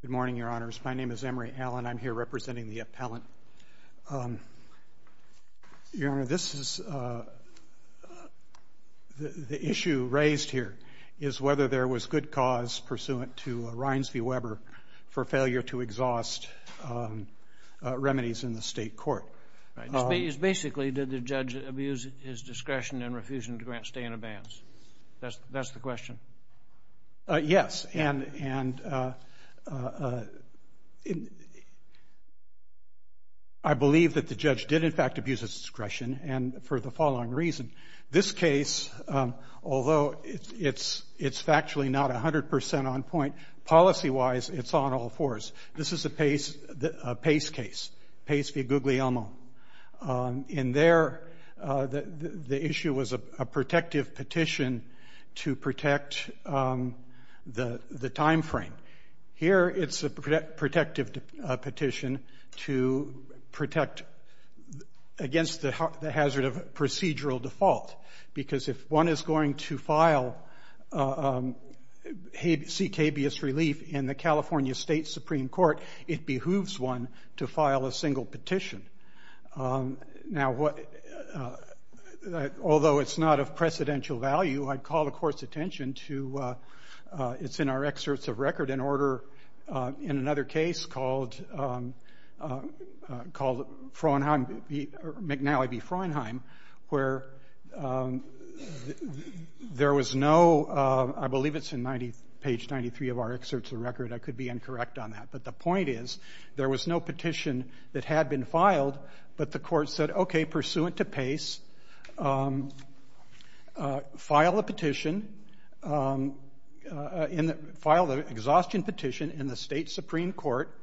Good morning, Your Honors. My name is Emory Allen. I'm here representing the appellant. Your Honor, this is the issue raised here, is whether there was good cause pursuant to Rines v. Weber for failure to exhaust remedies in the state court. Basically, did the judge abuse his discretion and refusing to grant remedies? I believe that the judge did, in fact, abuse his discretion for the following reason. This case, although it's factually not 100 percent on point, policy-wise, it's on all fours. This is a Pace case, Pace v. Guglielmo. In there, the issue was a protective petition to protect the timeframe. Here, it's a protective petition to protect against the hazard of procedural default, because if one is going to file, seek habeas relief in the California State Supreme Court, it behooves one to file a single petition. Now, although it's not of precedential value, I'd call the Court's attention to, it's in our excerpts of record, in another case called McNally v. Fraunheim, where there was no, I believe it's in page 93 of our excerpts of record, I could be incorrect on that, but the point is, there was no petition that had been filed, but the Court said, okay, pursuant to Pace, file a petition, file the exhaustion petition in the State Supreme Court,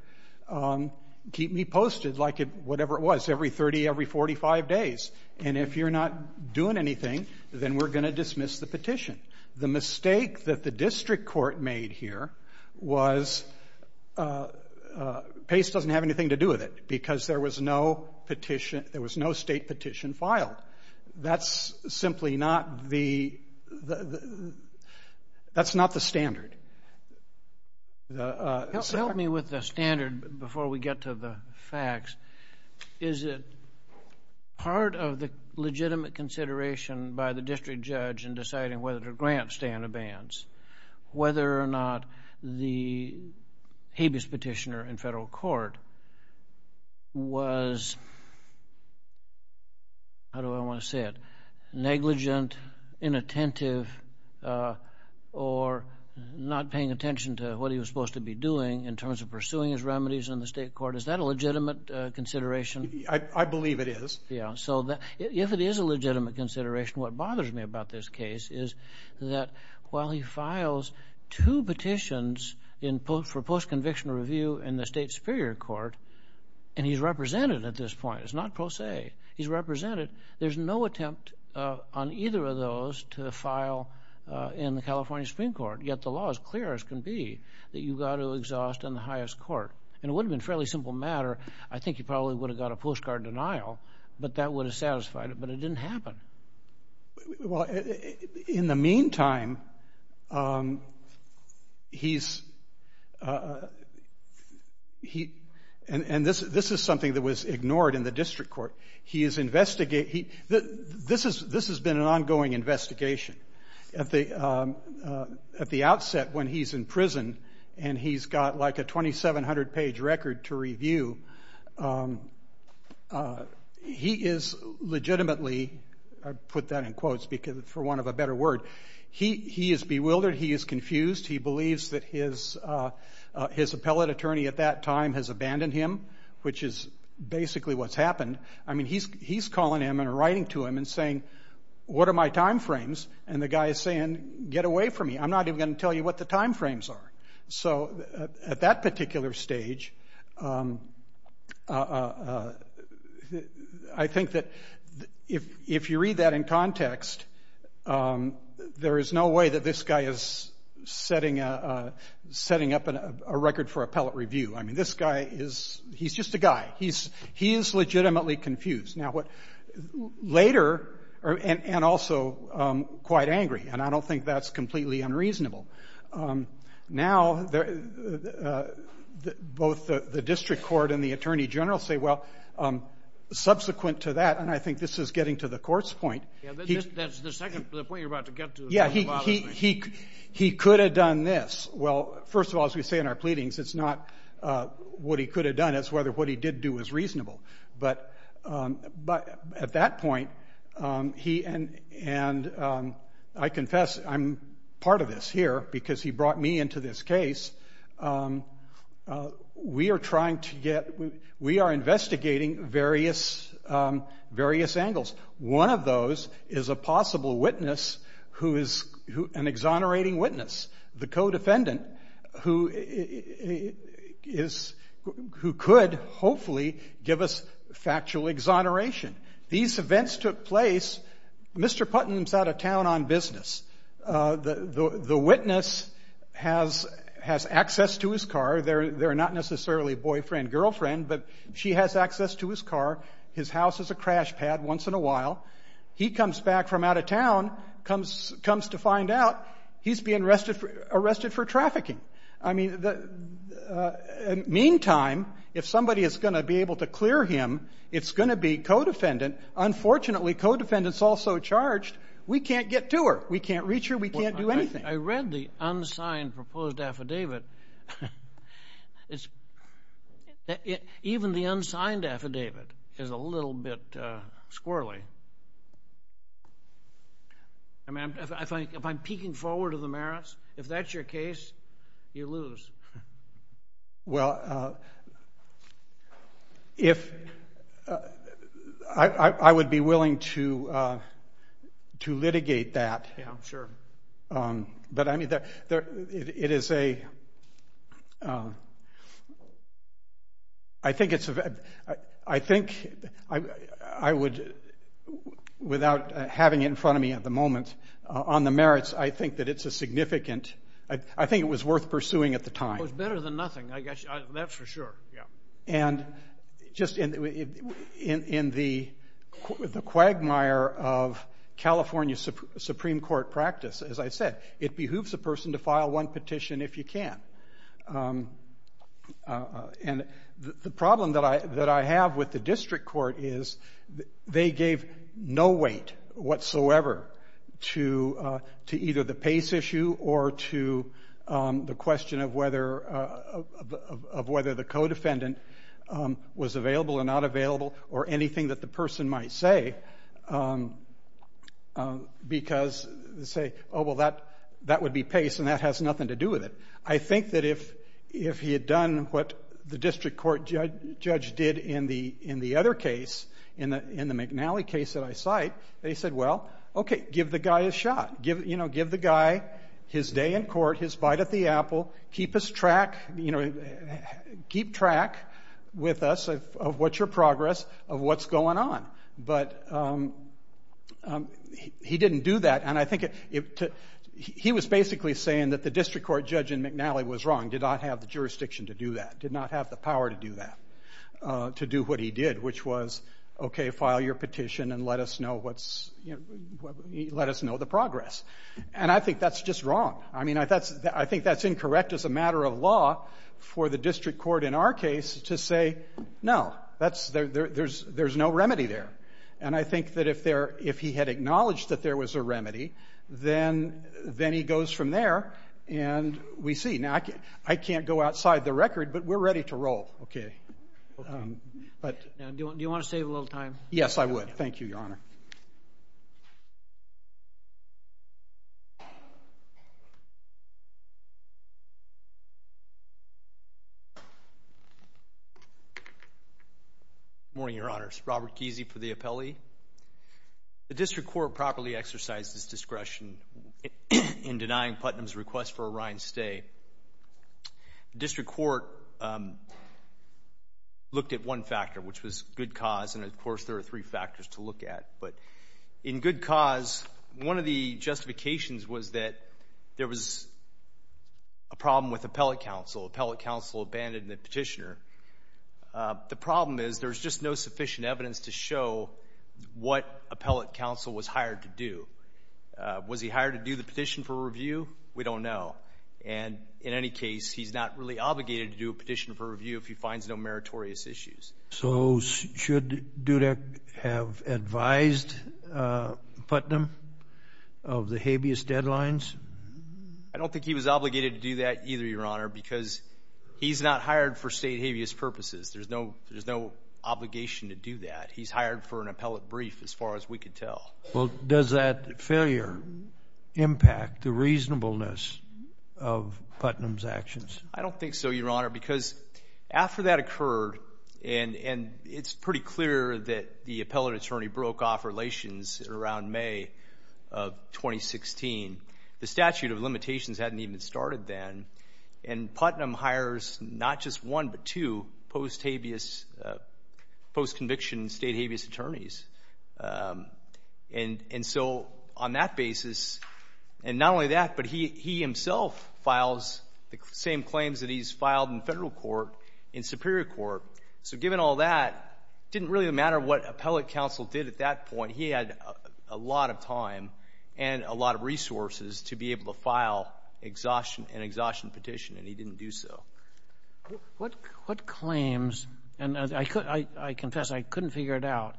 keep me posted, like whatever it was, every 30, every 45 days. And if you're not doing anything, then we're going to dismiss the petition. The mistake that the district court made here was, Pace doesn't have anything to do with it, because there was no petition, there was no state petition filed. That's simply not the, that's not the standard. Help me with the standard before we get to the facts. Is it part of the legitimate consideration by the district judge in deciding whether to grant stand-abands, whether or not the habeas petitioner in federal court was, how do I want to say it, negligent, inattentive, or not paying attention to what he was supposed to be doing in terms of pursuing his remedies in the state court? Is that a legitimate consideration? I believe it is. Yeah, so that, if it is a while he files two petitions in post, for post-conviction review in the state superior court, and he's represented at this point, it's not pro se, he's represented, there's no attempt on either of those to file in the California Supreme Court, yet the law is clear as can be that you've got to exhaust in the highest court. And it would have been fairly simple matter, I think he probably would have got a postcard denial, but that would have satisfied it, but it meantime, he's, and this is something that was ignored in the district court, he is investigating, this has been an ongoing investigation. At the outset, when he's in prison, and he's got like a 2,700 page record to review, he is bewildered, he is confused, he believes that his appellate attorney at that time has abandoned him, which is basically what's happened. I mean, he's calling him and writing to him and saying, what are my time frames? And the guy is saying, get away from me, I'm not even going to tell you what the time frames are. So at that there is no way that this guy is setting up a record for appellate review. I mean, this guy is, he's just a guy. He is legitimately confused. Now, later, and also quite angry, and I don't think that's completely unreasonable. Now, both the district court and the attorney general say, well, subsequent to that, and I think this is getting to the court's point. Yeah, that's the second point you're about to get to. Yeah, he could have done this. Well, first of all, as we say in our pleadings, it's not what he could have done, it's whether what he did do was reasonable. But at that point, and I confess, I'm part of this here, because he brought me into this case. We are trying to get, we are investigating various angles. One of those is a possible witness who is an exonerating witness, the co-defendant who is, who could hopefully give us factual exoneration. These events took place, Mr. Putnam's out of town on business. The witness has access to his car. They're not necessarily boyfriend, girlfriend, but she has access to his car. His house is a crash pad once in a while. He comes back from out of town, comes to find out he's being arrested for trafficking. I mean, meantime, if somebody is going to be able to clear him, it's going to be co-defendant. Unfortunately, co-defendant is also charged. We can't get to her. We can't reach her. We can't do anything. I read the unsigned proposed affidavit. Even the unsigned affidavit is a little bit squirrely. I mean, if I'm peeking forward to the merits, if that's your case, you lose. Well, if I would be willing to litigate that, but I mean, it is a, I think it's a, I think I would, without having it in front of me at the moment, on the merits, I think that it's a significant, I think it was worth pursuing at the time. It was better than nothing, I guess, that's for sure. Yeah. And just in the quagmire of California Supreme Court practice, as I said, it behooves a person to file one petition if you can. And the problem that I have with the district court is they gave no weight whatsoever to either the pace issue or to the question of whether the co-defendant was available or not available or anything that the person might say because they say, oh, well, that would be pace and that has nothing to do with it. I think that if he had done what the district court judge did in the other case, in the McNally case that I cite, they said, well, okay, give the guy a shot. Give the guy his day in court, his bite at the apple. Keep us track, you know, keep track with us of what's your progress, of what's going on. But he didn't do that and I think it, he was basically saying that the district court judge in McNally was wrong, did not have the jurisdiction to do that, did not have the power to do that, to do what he did, which was, okay, file your petition and let us know what's, let us know the progress. And I think that's just wrong. I mean, I think that's incorrect as a matter of law for the district court in our case to say, no, that's, there's no remedy there. And I think that if there, if he had acknowledged that there was a remedy, then he goes from there and we see. Now, I can't go outside the record, but we're ready to roll. Okay. Do you want to save a little time? Yes, I would. Thank you, Your Honor. Morning, Your Honors. Robert Kesey for the appellee. The district court properly exercised its discretion in denying Putnam's request for Orion's stay. District court, um, was good cause. And, of course, there are three factors to look at. But in good cause, one of the justifications was that there was a problem with appellate counsel. Appellate counsel abandoned the petitioner. The problem is there's just no sufficient evidence to show what appellate counsel was hired to do. Was he hired to do the petition for review? We don't know. And in any case, he's not really obligated to do a petition for review if he finds no So should Dudek have advised Putnam of the habeas deadlines? I don't think he was obligated to do that either, Your Honor, because he's not hired for state habeas purposes. There's no obligation to do that. He's hired for an appellate brief, as far as we could tell. Well, does that failure impact the reasonableness of Putnam's actions? I don't think so, Your Honor, because after that occurred, and it's pretty clear that the appellate attorney broke off relations around May of 2016, the statute of limitations hadn't even started then. And Putnam hires not just one, but two post-habeas, post-conviction state habeas attorneys. And so on that basis, and not only that, but he in Superior Court. So given all that, it didn't really matter what appellate counsel did at that point. He had a lot of time and a lot of resources to be able to file an exhaustion petition, and he didn't do so. What claims, and I confess I couldn't figure it out,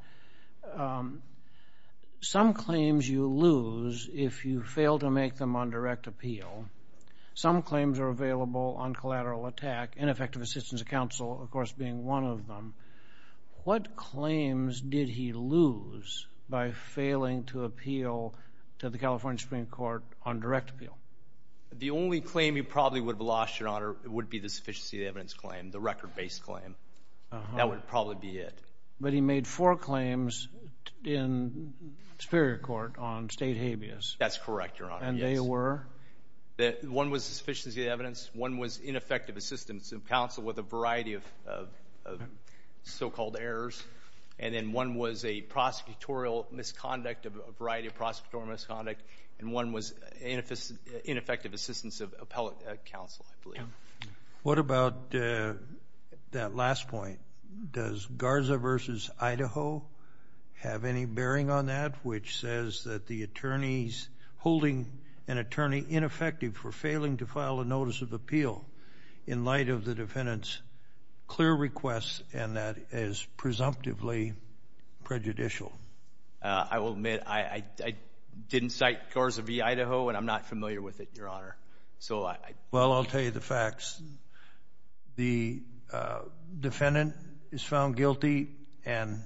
some claims you lose if you fail to make them on direct appeal. Some claims are available on collateral attack, ineffective assistance of counsel, of course, being one of them. What claims did he lose by failing to appeal to the California Supreme Court on direct appeal? The only claim he probably would have lost, Your Honor, would be the sufficiency of evidence claim, the record-based claim. That would probably be it. But he made four claims in Superior Court on state habeas. That's correct, Your Honor, yes. And they were? One was sufficiency of evidence, one was ineffective assistance of counsel with a variety of so-called errors, and then one was a prosecutorial misconduct, a variety of prosecutorial misconduct, and one was ineffective assistance of appellate counsel, I believe. What about that last point? Does Garza v. Idaho have any bearing on that, which says that the attorneys holding an attorney ineffective for failing to file a notice of appeal in light of the defendant's clear requests, and that is presumptively prejudicial? I will admit I didn't cite Garza v. Idaho, and I'm not familiar with it, Your Honor. Well, I'll tell you the facts. The defendant is found guilty, and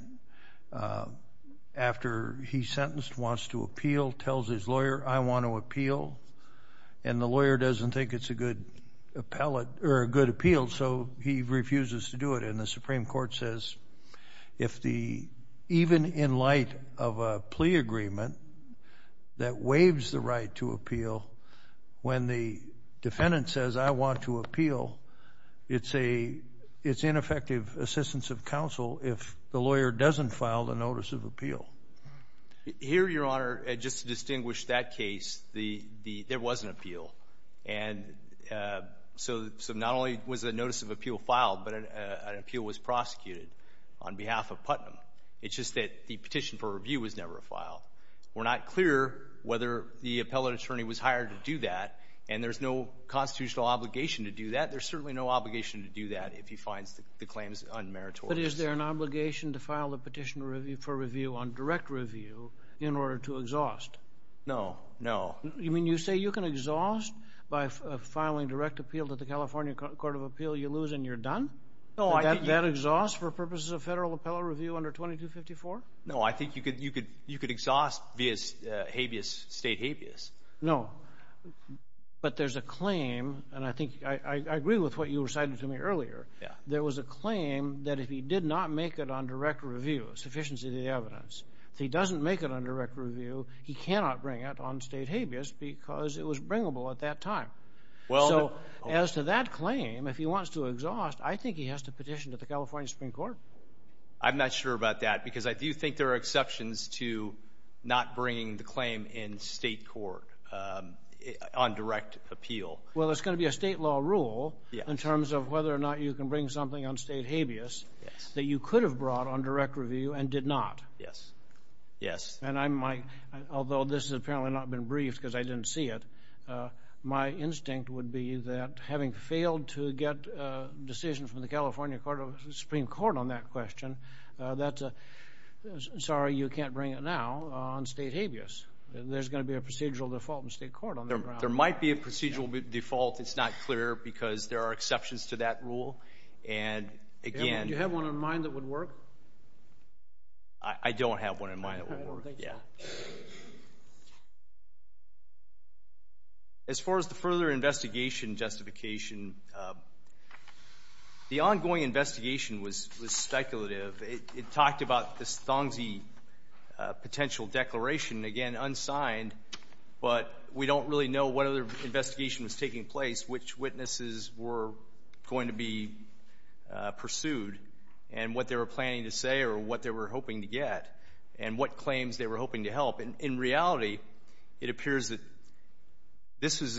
after he's sentenced, wants to appeal, tells his lawyer, I want to appellate, or a good appeal, so he refuses to do it. And the Supreme Court says, if the, even in light of a plea agreement that waives the right to appeal, when the defendant says, I want to appeal, it's a, it's ineffective assistance of counsel if the lawyer doesn't file the notice of appeal. Here, Your Honor, just to not only was the notice of appeal filed, but an appeal was prosecuted on behalf of Putnam. It's just that the petition for review was never filed. We're not clear whether the appellate attorney was hired to do that, and there's no constitutional obligation to do that. There's certainly no obligation to do that if he finds the claims unmeritorious. But is there an obligation to file a petition for review on direct review in order to exhaust? No. No. You mean you say you can exhaust by filing direct appeal to the California Court of Appeal, you lose, and you're done? No. That exhausts for purposes of federal appellate review under 2254? No, I think you could, you could, you could exhaust via habeas, state habeas. No. But there's a claim, and I think, I, I agree with what you recited to me earlier. Yeah. There was a claim that if he did not make it on direct review, sufficiency of the evidence, if he doesn't make it on direct review, he cannot bring it on state habeas at that time. Well. So as to that claim, if he wants to exhaust, I think he has to petition to the California Supreme Court. I'm not sure about that because I do think there are exceptions to not bringing the claim in state court on direct appeal. Well, it's going to be a state law rule. Yeah. In terms of whether or not you can bring something on state habeas. Yes. That you could have brought on direct review and did not. Yes. Yes. And I might, although this has apparently not been briefed because I didn't see it, my instinct would be that having failed to get a decision from the California Court of, Supreme Court on that question, that's a, sorry you can't bring it now, on state habeas. There's going to be a procedural default in state court on that. There might be a procedural default. It's not clear because there are exceptions to that rule. And again. Do you have one in mind that would work? I don't have one in mind that would work. Yeah. As far as the further investigation justification, the ongoing investigation was speculative. It talked about this Thongzhi potential declaration, again, unsigned, but we don't really know what other investigation was taking place, which witnesses were going to be pursued and what they were planning to say or what they were hoping to get and what claims they were hoping to help. And in reality, it appears that this is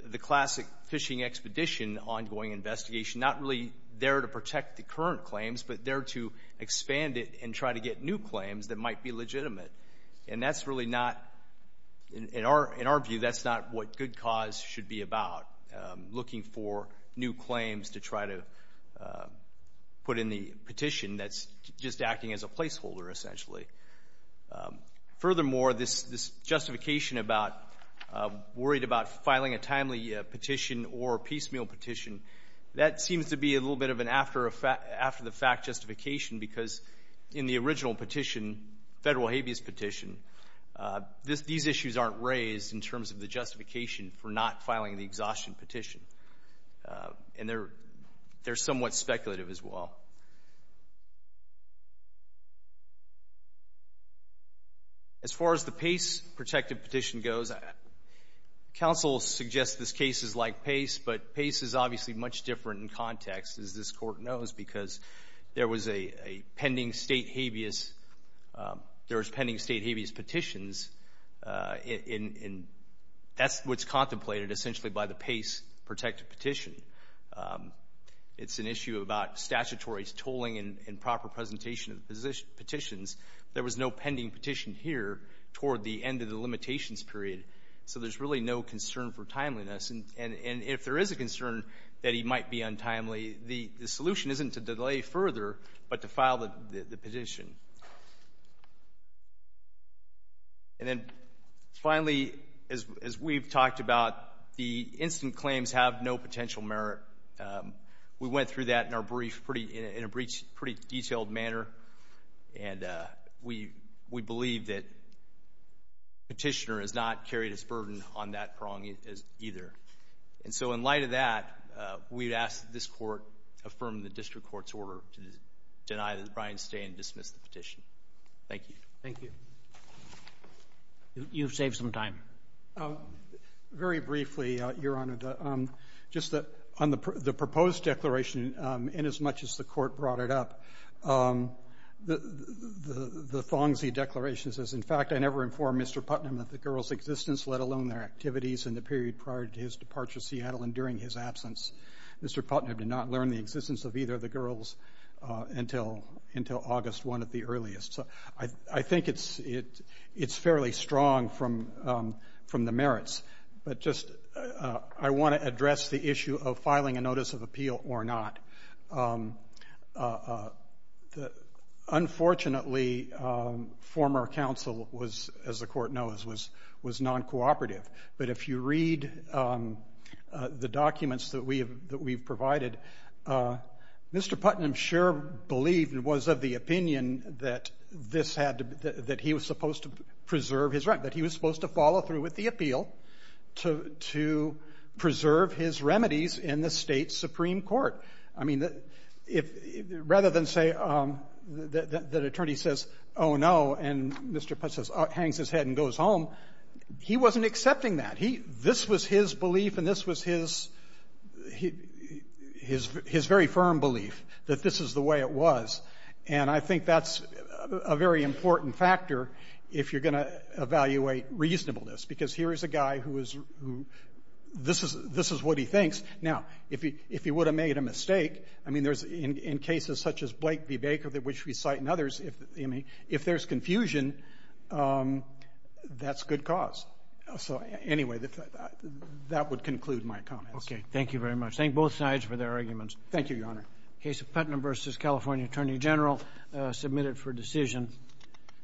the classic fishing expedition, ongoing investigation, not really there to protect the current claims, but there to expand it and try to get new claims that might be legitimate. And that's really not, in our, in our view, that's not what good cause should be about looking for new claims to try to put in the petition that's just acting as a placeholder, essentially. Furthermore, this justification about worried about filing a timely petition or piecemeal petition, that seems to be a little bit of an after the fact justification because in the original petition, federal habeas petition, these issues aren't raised in terms of the and they're, they're somewhat speculative as well. As far as the Pace protected petition goes, Council suggests this case is like Pace, but Pace is obviously much different in context, as this court knows, because there was a pending state habeas, there was pending state habeas petitions, and that's what's contemplated essentially by the Pace protected petition. It's an issue about statutory tolling and proper presentation of petitions. There was no pending petition here toward the end of the limitations period. So there's really no concern for timeliness. And if there is a concern that he might be untimely, the solution isn't to delay further, but to file the petition. And then finally, as we've talked about, the instant claims have no potential merit. We went through that in our brief, pretty, in a pretty detailed manner, and we believe that petitioner has not carried his burden on that prong either. And so in light of that, we'd ask that this court affirm the petition. Thank you. Thank you. You've saved some time. Very briefly, Your Honor, just on the proposed declaration, inasmuch as the court brought it up, the thongsy declaration says, in fact, I never informed Mr Putnam of the girl's existence, let alone their activities in the period prior to his departure to Seattle and during his absence. Mr Putnam did not learn the existence of either of the girls until August 1 at the earliest. So I think it's fairly strong from the merits. But just I want to address the issue of filing a notice of appeal or not. Unfortunately, former counsel was, as the court knows, was non-cooperative. But if you read the documents that we've provided, Mr Putnam sure believed and was of the opinion that this had to be that he was supposed to preserve his right, that he was supposed to follow through with the appeal to preserve his remedies in the State Supreme Court. I mean, if rather than say that the attorney says, oh, no, and Mr. Putnam hangs his head and goes home, he wasn't accepting that. This was his belief, and this was his very firm belief that this is the way it was. And I think that's a very important factor if you're going to evaluate reasonableness, because here is a guy who is who this is this is what he thinks. Now, if he if he would have made a mistake, I mean, there's in cases such as Blake v. Baker, which we cite in others, if I mean, if there's confusion, that's good cause. So anyway, that would conclude my comments. Okay. Thank you very much. Thank both sides for their arguments. Thank you, Your Honor. Case of Putnam versus California Attorney General submitted for decision.